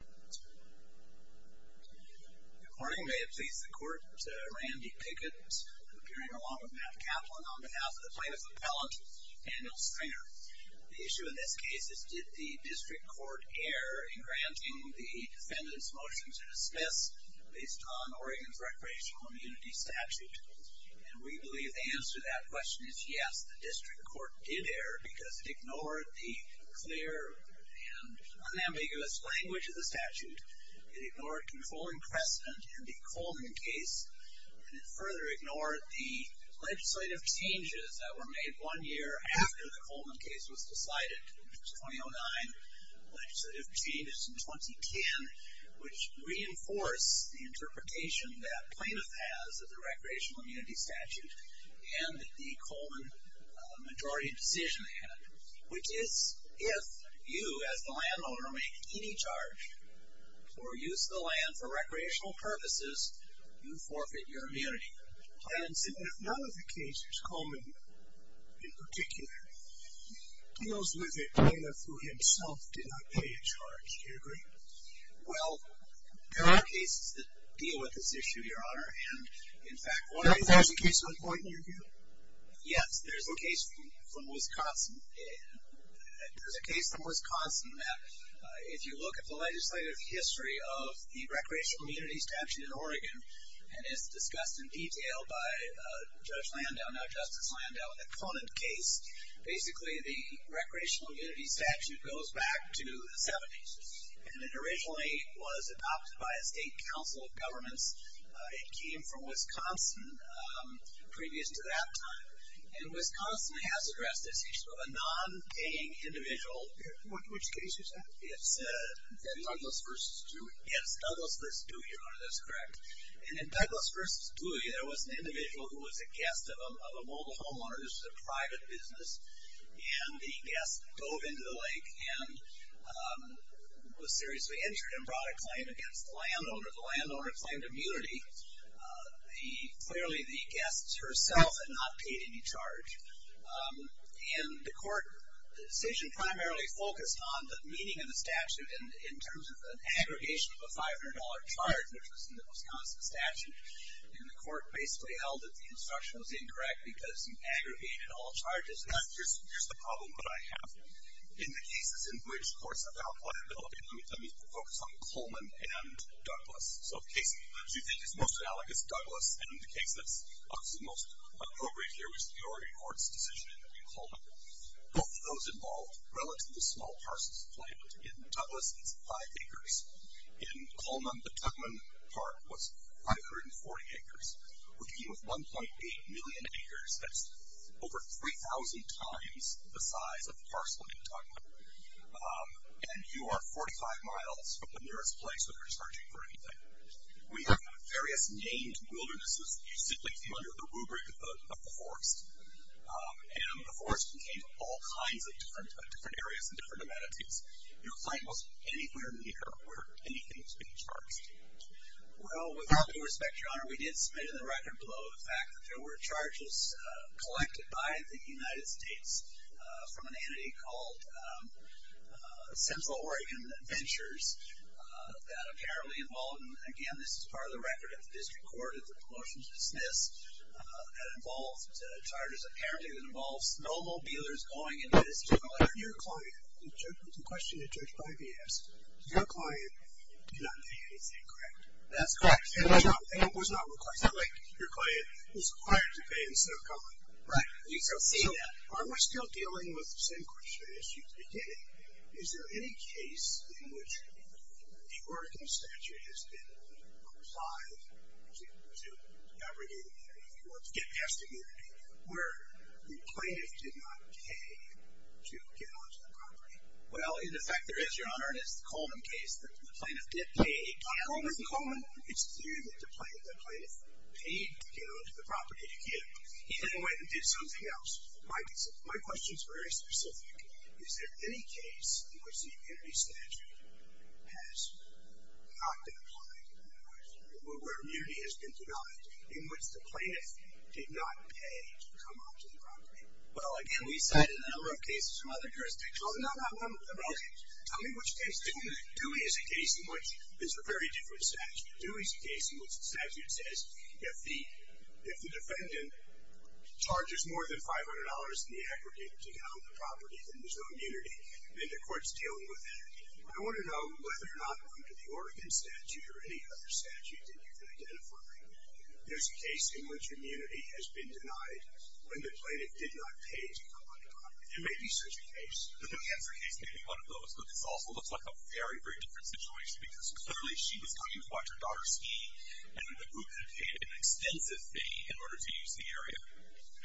Good morning. May it please the Court, Randy Pickett appearing along with Matt Kaplan on behalf of the plaintiff's appellant, Daniel Stringer. The issue in this case is did the District Court err in granting the defendant's motion to dismiss based on Oregon's recreational immunity statute? And we believe the answer to that question is yes, the District Court did err because it ignored the clear and unambiguous language of the statute, it ignored controlling precedent in the Coleman case, and it further ignored the legislative changes that were made one year after the Coleman case was decided, which was 2009, legislative changes in 2010, which reinforce the interpretation that plaintiff has of the recreational immunity statute and the Coleman majority decision had, which is if you, as the landowner, make any charge for use of the land for recreational purposes, you forfeit your immunity. Plaintiff said that if none of the cases, Coleman in particular, deals with it, Dana, through himself, did not pay a charge. Do you agree? Well, there are cases that deal with this issue, Your Honor, and, in fact, one of the cases... Is there a case on point in your view? Yes, there's a case from Wisconsin. There's a case from Wisconsin that, if you look at the legislative history of the recreational immunity statute in Oregon, and it's discussed in detail by Judge Landau, now Justice Landau, in the Coleman case. Basically, the recreational immunity statute goes back to the 70s, and it originally was adopted by a state council of governments. It came from Wisconsin previous to that time, and Wisconsin has addressed this issue of a non-paying individual. Which case is that? It's Douglas v. Dewey. Yes, Douglas v. Dewey, Your Honor, that's correct. And in Douglas v. Dewey, there was an individual who was a guest of a mobile homeowner. This was a private business, and the guest dove into the lake and was seriously injured and brought a claim against the landowner. The landowner claimed immunity. Clearly, the guest herself had not paid any charge. And the court decision primarily focused on the meaning of the statute in terms of an aggregation of a $500 charge, which was in the Wisconsin statute. And the court basically held that the instruction was incorrect because you aggregated all charges. Here's the problem that I have. In the cases in which courts have held liability, let me focus on Coleman and Douglas. So the case you think is most analogous, Douglas, and the case that's obviously most appropriate here, which is the Oregon courts' decision in Coleman. Both of those involved relatively small parcels of land. In Douglas, it's five acres. In Coleman, the Tuckman Park was 540 acres. We're dealing with 1.8 million acres. That's over 3,000 times the size of the parcel in Tuckman. And you are 45 miles from the nearest place that you're charging for anything. We have various named wildernesses. You simply feel you're the rubric of the forest. And the forest contained all kinds of different areas and different amenities. Your claim was anywhere near where anything was being charged. Well, with all due respect, Your Honor, we did submit in the record below the fact that there were charges collected by the United States from an entity called Central Oregon Ventures that apparently involved, and, again, this is part of the record at the district court, if the promotion is dismissed, that involved charges apparently that involved snowmobilers going into this. Your client, the question that Judge Bivey asked, your client did not pay anything, correct? That's correct. And it was not required. It's not like your client was required to pay instead of going. Right. We still see that. Are we still dealing with the same question as you did? Is there any case in which the Oregon statute has been applied to abrogating that, if you will, to get past immunity, where the plaintiff did not pay to get onto the property? Well, in effect, there is, Your Honor. It's the Coleman case that the plaintiff did pay. Coleman? Coleman. It's clear that the plaintiff paid to get onto the property. He then went and did something else. My question is very specific. Is there any case in which the immunity statute has not been applied in that way, where immunity has been denied, in which the plaintiff did not pay to come onto the property? Well, again, we cited a number of cases from other jurisdictions. No, no, no. Tell me which case. Dewey is a case in which there's a very different statute. Dewey is a case in which the statute says if the defendant charges more than $500 in the aggregate to get on the property, then there's no immunity, and the court's dealing with that. I want to know whether or not under the Oregon statute or any other statute that you've been identifying, there's a case in which immunity has been denied when the plaintiff did not pay to come onto the property. There may be such a case. The New Hampshire case may be one of those, but this also looks like a very, very different situation because clearly she was coming to watch her daughter ski, and the group had paid an extensive fee in order to use the area.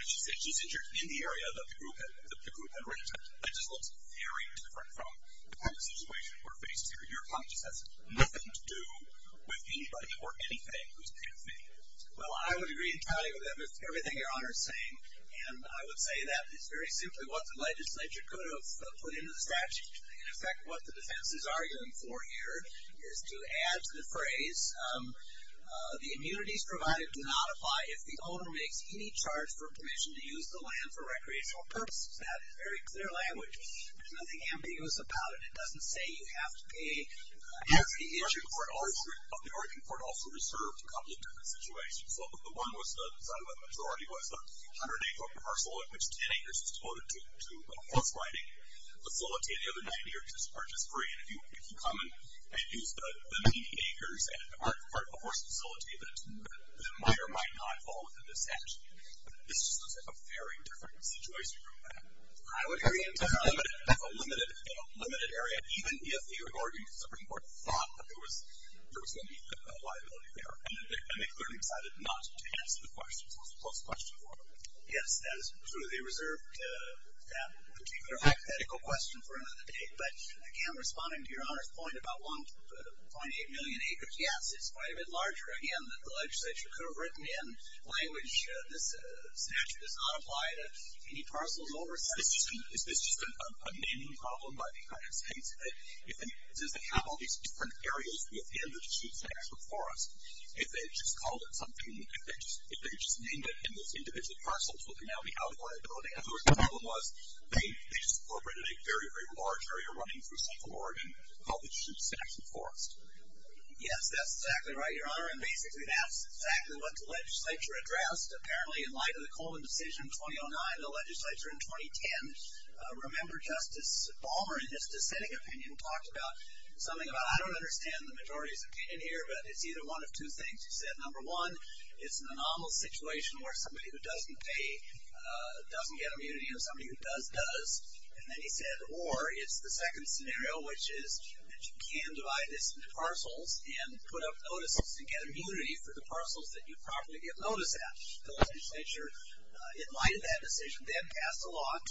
She's injured in the area that the group had rented. That just looks very different from the kind of situation we're faced here. Your client just has nothing to do with anybody or anything who's paid a fee. Well, I would agree entirely with everything Your Honor is saying, and I would say that it's very simply what the legislature could have put into the statute, and, in fact, what the defense is arguing for here is to add to the phrase the immunities provided do not apply if the owner makes any charge for permission to use the land for recreational purposes. That is very clear language. There's nothing ambiguous about it. It doesn't say you have to pay every issue. The Oregon court also reserved a couple of different situations. One was the majority was the 108-foot parcel in which 10 acres was devoted to a horse riding facility. The other 90 acres are just free, and if you come and use the remaining acres as part of a horse facility, the miter might not fall within the statute. This just looks like a very different situation from that. I would agree entirely. It's a limited area, even if the Oregon Supreme Court thought that there was going to be a liability there, and they clearly decided not to answer the question, so it's a close question for them. Yes, that is true. They reserved that particular hypothetical question for another date. But, again, responding to Your Honor's point about 1.8 million acres, yes, it's quite a bit larger. Again, the legislature could have written in language this statute does not apply to any parcels or resettlement. It's just a naming problem by the United States. If they have all these different areas within the statute for us, if they just called it something, if they just named it in this individual parcel, it would now be out of liability. In other words, the problem was they just incorporated a very, very large area running through Central Oregon called the Shoe Saxon Forest. Yes, that's exactly right, Your Honor, and basically that's exactly what the legislature addressed, apparently in light of the Coleman decision in 2009, the legislature in 2010. Remember Justice Balmer, in his dissenting opinion, talked about something about, I don't understand the majority's opinion here, but it's either one of two things. He said, number one, it's an anomalous situation where somebody who doesn't pay doesn't get immunity and somebody who does, does. And then he said, or it's the second scenario, which is that you can divide this into parcels and put up notices to get immunity for the parcels that you probably get notice at. The legislature, in light of that decision, then passed a law in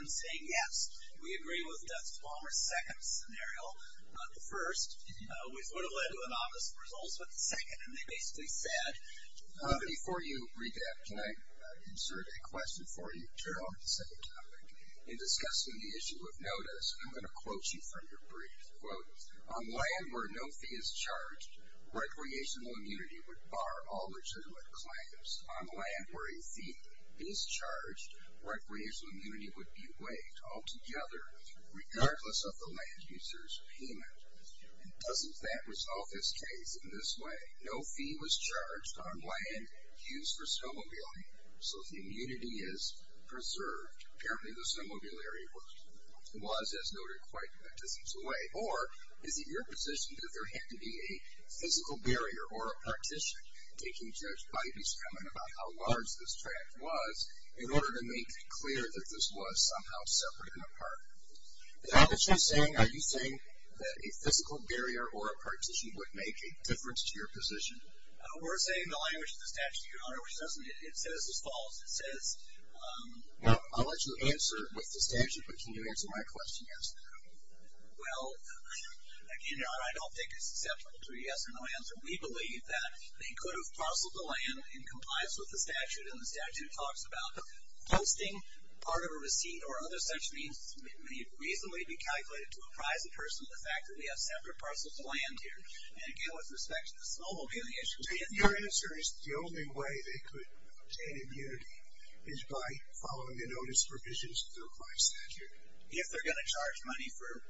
2010 saying, yes, we agree with Justice Balmer's second scenario, not the first. Which would have led to anomalous results with the second, and they basically said. Before you read that, can I insert a question for you? Sure. On the second topic. In discussing the issue of notice, I'm going to quote you from your brief. Quote, on land where no fee is charged, recreational immunity would bar all legitimate claims. On land where a fee is charged, recreational immunity would be waived altogether, regardless of the land user's payment. And doesn't that resolve this case in this way? No fee was charged on land used for snowmobiling, so the immunity is preserved. Apparently the snowmobiliary was, as noted, quite a distance away. Or is it your position that there had to be a physical barrier or a partition, taking Judge Biden's comment about how large this tract was, in order to make clear that this was somehow separate and apart? Is that what you're saying? Are you saying that a physical barrier or a partition would make a difference to your position? We're saying the language of the statute, Your Honor, which it says is false. It says. Well, I'll let you answer with the statute, but can you answer my question, yes or no? Well, again, Your Honor, I don't think it's acceptable to say yes or no answer. We believe that they could have parceled the land in compliance with the statute, and the statute talks about hosting part of a receipt or other such means may reasonably be calculated to apprise a person of the fact that we have separate parcels of land here. And, again, with respect to the snowmobiling issue. Your answer is the only way they could obtain immunity is by following the notice provisions of the required statute? If they're going to charge money for it.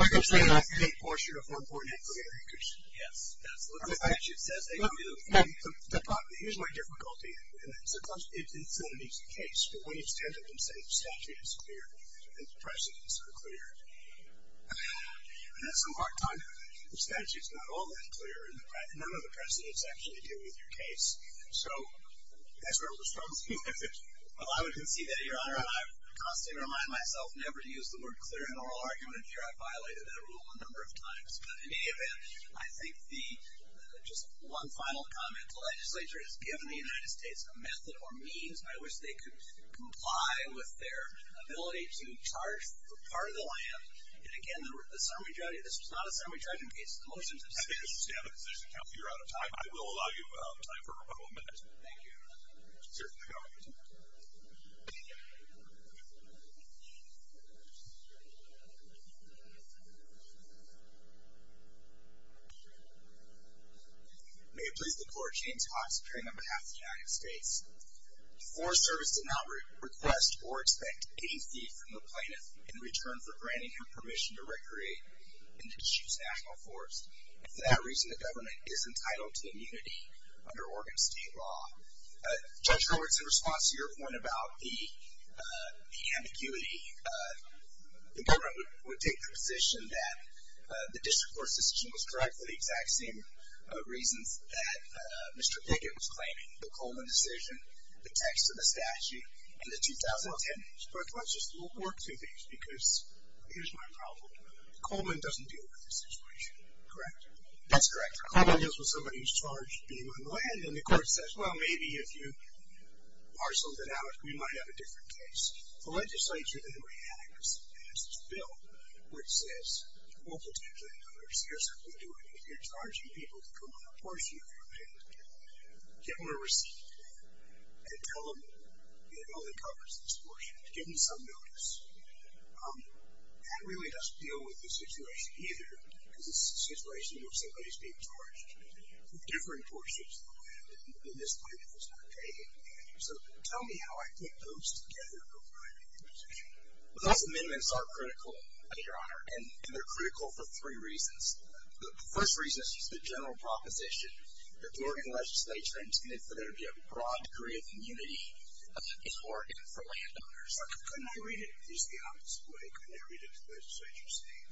Like I'm saying, that's a big portion of 1.8 billion acres. Yes, that's what the statute says. Here's my difficulty. Sometimes it's not an easy case, but when you stand up and say the statute is clear and the precedents are clear, that's a hard time. The statute's not all that clear, and none of the precedents actually deal with your case. So that's where it was from. Well, I would concede that, Your Honor, and I constantly remind myself never to use the word clear in an oral argument. Here I've violated that rule a number of times. But, in any event, I think just one final comment. The legislature has given the United States a method or means by which they could comply with their ability to charge for part of the land. And, again, this was not a summary trial case. The motions have said it. I understand the position, Counselor. You're out of time. I will allow you time for a couple of minutes. Thank you. Certainly, Your Honor. May it please the Court, James Haas, appearing on behalf of the United States. The Forest Service did not request or expect any fee from the plaintiff in return for granting him permission to recreate in the District's National Forest. For that reason, the government is entitled to immunity under Oregon State law. Judge Roberts, in response to your point about the ambiguity, the government would take the position that the District Court's decision was correct for the exact same reasons that Mr. Dickett was claiming. The Coleman decision, the text of the statute, and the 2010... Well, Judge, let's just... We'll work two things, because here's my problem. Coleman doesn't deal with this situation, correct? That's correct. Coleman deals with somebody who's charged being on land, and the Court says, well, maybe if you parceled it out, we might have a different case. The legislature then reacts and passes a bill which says, we'll protect the landowners. Here's what we're doing. If you're charging people to come on a portion of your land, get them a receipt and tell them it only covers this portion. Give them some notice. That really doesn't deal with the situation either, because it's a situation where somebody is being charged with different portions of the land, and this claim is not paid. So tell me how I put those together before I make the decision. Those amendments are critical, Your Honor, and they're critical for three reasons. The first reason is just the general proposition that the Oregon legislature intended for there to be a broad degree of immunity in Oregon for landowners. Couldn't I read it just the opposite way? Couldn't I read it as the legislature saying,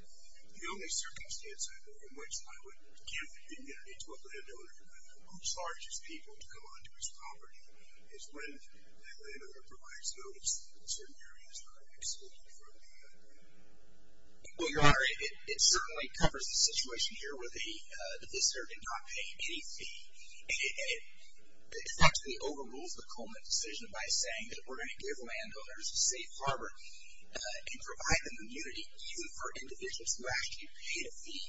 the only circumstance in which I would give immunity to a landowner who charges people to come onto his property is when that landowner provides notice that a certain area is not excluded from the agreement? Well, Your Honor, it certainly covers the situation here where the visitor did not pay any fee. It effectively overrules the Coleman decision by saying that we're going to give landowners a safe harbor and provide them immunity, even for individuals who actually paid a fee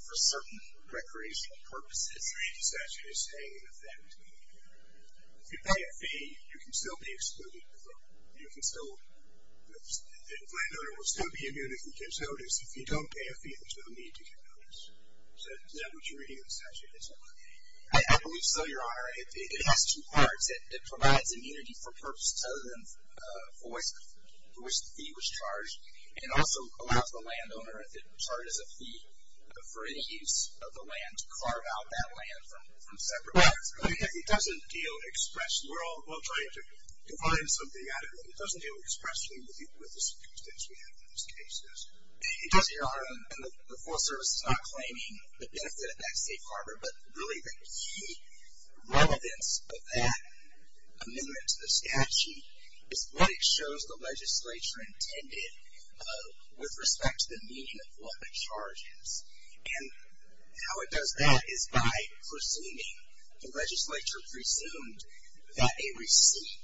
for certain recreational purposes. I read the statute as saying that if you pay a fee, you can still be excluded from the vote. The landowner will still be immune if he gives notice. If you don't pay a fee, there's no need to give notice. Is that what you're reading in the statute as well? I believe so, Your Honor. It has two parts. It provides immunity for purposes other than for which the fee was charged, and also allows the landowner, if it charges a fee for any use of the land, to carve out that land from separate lands. It doesn't deal expressly. We're all trying to find something out of it. It doesn't deal expressly with the circumstances we have in these cases. It does, Your Honor, and the Forest Service is not claiming the benefit of that safe harbor, but really the key relevance of that amendment to the statute is what it shows the legislature intended with respect to the meaning of what the charge is. And how it does that is by presuming. The legislature presumed that a receipt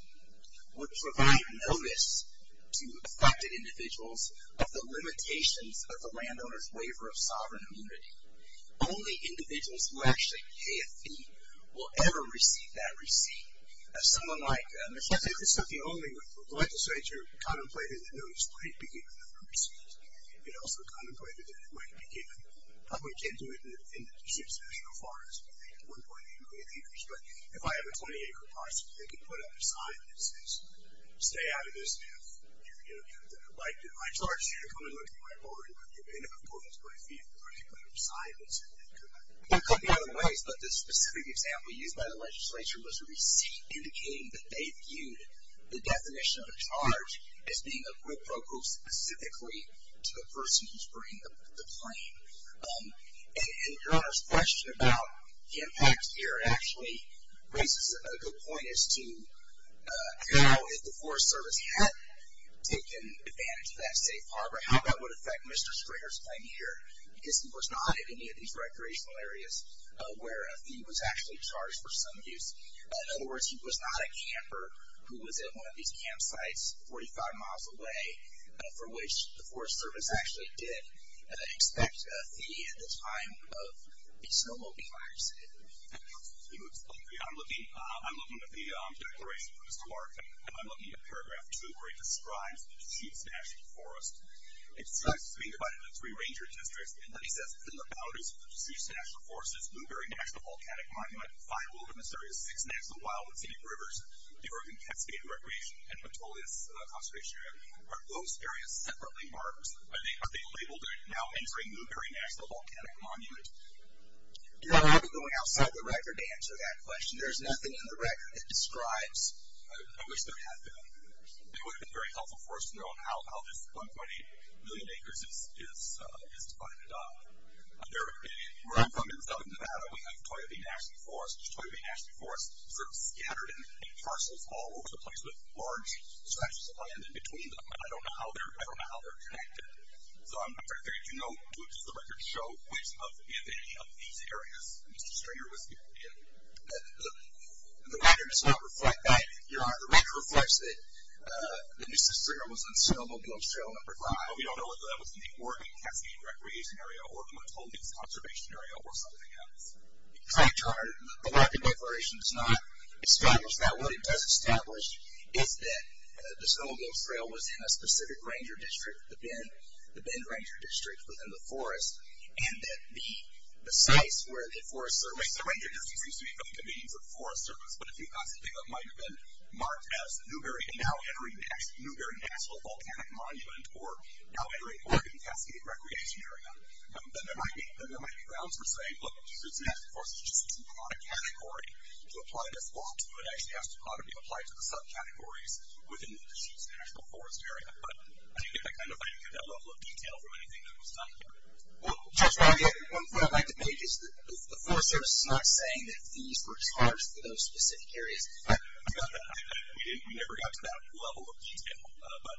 would provide notice to affected individuals of the limitations of the landowner's waiver of sovereign immunity. Only individuals who actually pay a fee will ever receive that receipt. Someone like Michelle Davis of the only legislature contemplated that notice might be given on a receipt. It also contemplated that it might be given. Probably can't do it in the district, as far as 1.8 million acres, but if I have a 20-acre parcel, they can put up a sign that says, Stay out of this if you're going to do it that way. So, I charge you to come and look at my board and look at the benefit points for a fee if you're going to put up a sign that says that you're not doing it. There are a couple of other ways, but the specific example used by the legislature was a receipt indicating that they viewed the definition of a charge as being applicable specifically to the person who's bringing the claim. And Your Honor's question about the impact here actually raises a good point as to how if the Forest Service had taken advantage of that safe harbor, how that would affect Mr. Springer's claim here, because he was not in any of these recreational areas where a fee was actually charged for some use. In other words, he was not a camper who was at one of these campsites 45 miles away for which the Forest Service actually did expect a fee at the time of the snowmobiling incident. I'm looking at the declaration from Mr. Larkin. I'm looking at paragraph 2 where he describes the Seuss National Forest. It says it's being divided into three ranger districts, and then he says that the boundaries of the Seuss National Forest is Newberry National Volcanic Monument, five wilderness areas, six national wildwoods, eight rivers, the Oregon Cascade Recreation, and Metolius Conservation Area. Are those areas separately marked? Are they labeled now entering Newberry National Volcanic Monument? I'll be going outside the record to answer that question. There's nothing in the record that describes. I wish there had been. It would have been very helpful for us to know how this 1.8 million acres is divided up. Where I'm from in southern Nevada, we have Toyo Bay National Forest. Toyo Bay National Forest is sort of scattered in parcels all over the place with large stretches of land in between them. I don't know how they're connected. I'm afraid to note, which the records show, which of any of these areas Mr. Stringer was in. The record does not reflect that, Your Honor. The record reflects that Mr. Stringer was in Snowmobile Trail number five. We don't know whether that was in the Oregon Cascade Recreation Area or the Metolius Conservation Area or something else. The record declaration does not establish that. What it does establish is that the Snowmobile Trail was in a specific ranger district within the forest. And that the space where the forest service, the ranger district seems to be really convenient for the forest service, but if you possibly thought it might have been marked as Newberry National Volcanic Monument or now entering Oregon Cascade Recreation Area, then there might be grounds for saying, look, it's a national forest, it's just a symbolic category to apply this law to. It actually has to probably be applied to the subcategories within the state's national forest area. But I think I kind of got that level of detail from anything that was done here. Well, Judge, one point I'd like to make is that the forest service is not saying that these were charged for those specific areas. We never got to that level of detail, but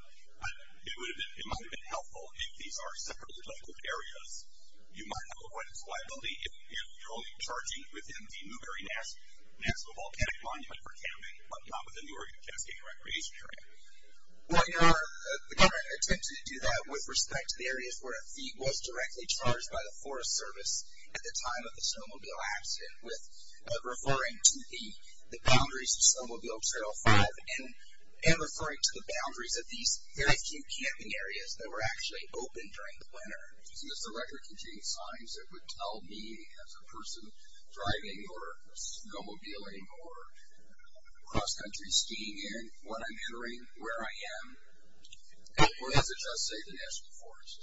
it might have been helpful if these are separately labeled areas. You might have a point of reliability if you're only charging within the Newberry National Volcanic Monument for camping but not within the Oregon Cascade Recreation Area. Well, you know, the government attempted to do that with respect to the areas where a fee was directly charged by the forest service at the time of the snowmobile accident with referring to the boundaries of Snowmobile Trail 5 and referring to the boundaries of these very few camping areas that were actually open during the winter. So does the record contain signs that would tell me, as a person driving or snowmobiling or cross-country skiing, what I'm entering, where I am, or does it just say the National Forest?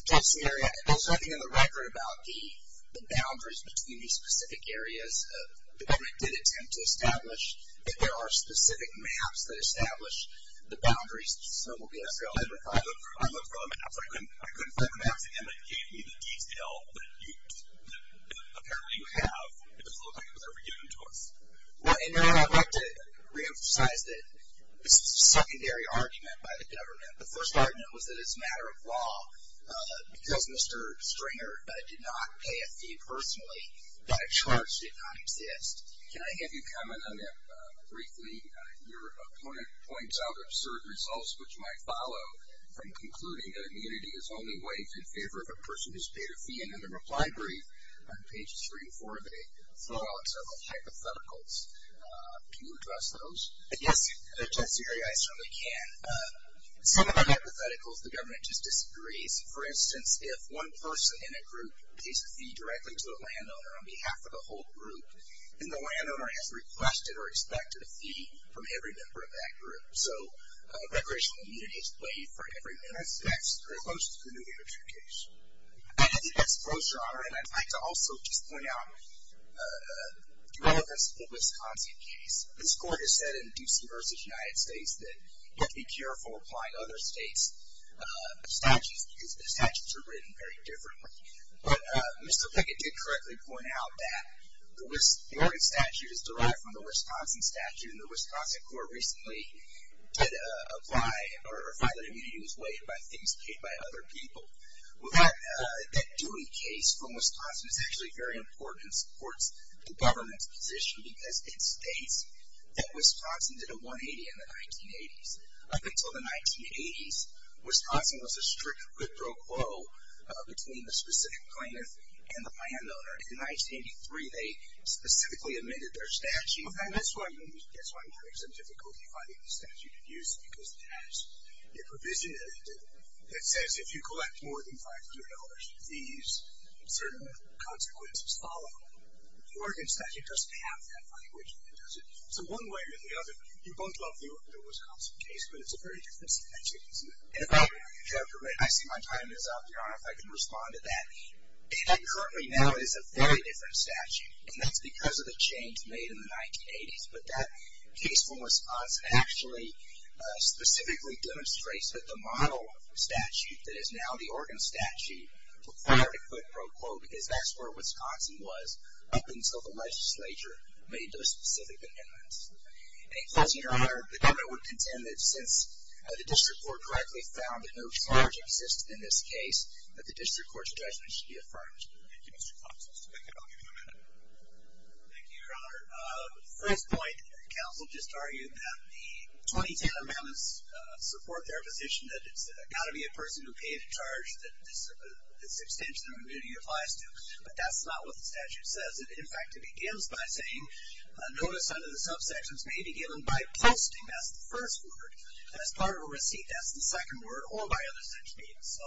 It does, and there's nothing in the record about the boundaries between these specific areas. The government did attempt to establish that there are specific maps that establish the boundaries of Snowmobile Trail 5. I looked for all the maps, but I couldn't find the maps, and they gave me the detail that apparently you have. It just looked like it was already given to us. Well, and then I'd like to reemphasize that this is a secondary argument by the government. The first argument was that it's a matter of law, because Mr. Stringer did not pay a fee personally, that a charge did not exist. Can I have you comment on that briefly? Your opponent points out absurd results which might follow from concluding that immunity is only waived in favor of a person who's paid a fee. Again, in the reply brief on page 3 and 4, they throw out several hypotheticals. Can you address those? Yes, at a test area, I certainly can. Some of the hypotheticals the government just disagrees. For instance, if one person in a group pays a fee directly to a landowner on behalf of the whole group, then the landowner has requested or expected a fee from every member of that group. So recreational immunity is waived for every member. In some aspects, there is no such thing as an immunity case. I didn't expose your honor, and I'd like to also just point out the Wisconsin case. This court has said in D.C. v. United States that you have to be careful applying other states' statutes, because the statutes are written very differently. But Mr. Pickett did correctly point out that the Oregon statute is derived from the Wisconsin statute, and the Wisconsin court recently did apply or find that immunity was waived by things paid by other people. That duty case from Wisconsin is actually very important and supports the government's position, because it states that Wisconsin did a 180 in the 1980s. Up until the 1980s, Wisconsin was a strict quid pro quo between the specific plaintiff and the landowner. In 1983, they specifically amended their statute. In fact, that's why I'm having some difficulty finding the statute of use, because it has a provision in it that says if you collect more than $500, these certain consequences follow. The Oregon statute doesn't have that language, and it doesn't. So one way or the other, you both love the Wisconsin case, but it's a very different statute, isn't it? And if I may interject a bit, I see my time is up, Your Honor, if I can respond to that. It currently now is a very different statute, and that's because of the change made in the 1980s. But that case from Wisconsin actually specifically demonstrates that the model of the statute that is now the Oregon statute required a quid pro quo, because that's where Wisconsin was up until the legislature made those specific amendments. And closing, Your Honor, the government would contend that since the district court correctly found that no charge existed in this case, that the district court's judgment should be affirmed. Thank you, Mr. Clemson. Mr. Bickett, I'll give you a minute. Thank you, Your Honor. First point, counsel just argued that the 2010 amendments support their position that it's got to be a person who paid the charge that this extension of immunity applies to. But that's not what the statute says. In fact, it begins by saying notice under the subsections may be given by posting, that's the first word, as part of a receipt, that's the second word, or by other such means. So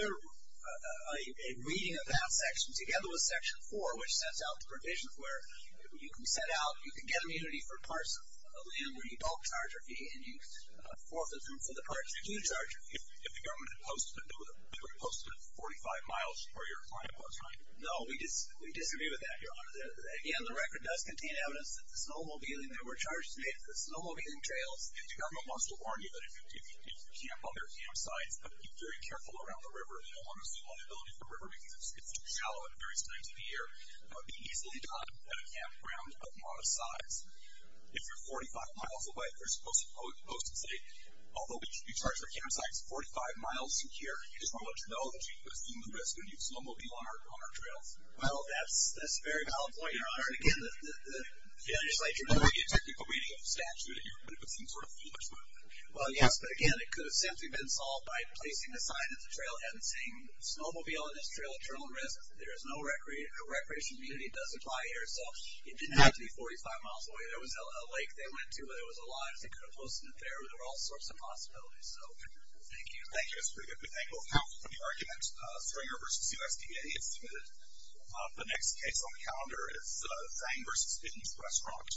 a reading of that section together with Section 4, which sets out the provisions where you can set out, you can get immunity for parcel of land where you don't charge a fee and you forfeit them for the parts you do charge a fee. If the government had posted them, they would have posted them 45 miles where your client was, right? No, we disagree with that, Your Honor. Again, the record does contain evidence that the snowmobiling that were charged to me for snowmobiling trails, and the government wants to warn you that if you camp on their campsites, you've got to be very careful around the river. You don't want to assume liability for the river because it's too shallow and it varies times of the year. It would be easily done at a campground of modest size. If you're 45 miles away, you're supposed to post and say, although we charge our campsites 45 miles from here, you just want to let us know that you assume the risk when you snowmobile on our trails. Well, that's a very valid point, Your Honor. Again, I just like to know the technical meaning of the statute here, but if it's some sort of foolish move. Well, yes, but again, it could have simply been solved by placing the sign at the trailhead saying snowmobile on this trail, eternal risk. There is no recreational immunity that does apply here. So it didn't have to be 45 miles away. There was a lake they went to where there was a line. They could have posted it there. There were all sorts of possibilities. Thank you. Thank you. That's pretty good. We thank both counsel for the argument. Springer v. USDA, it's submitted. The next case on the calendar is Zang v. Stitten's Restaurant.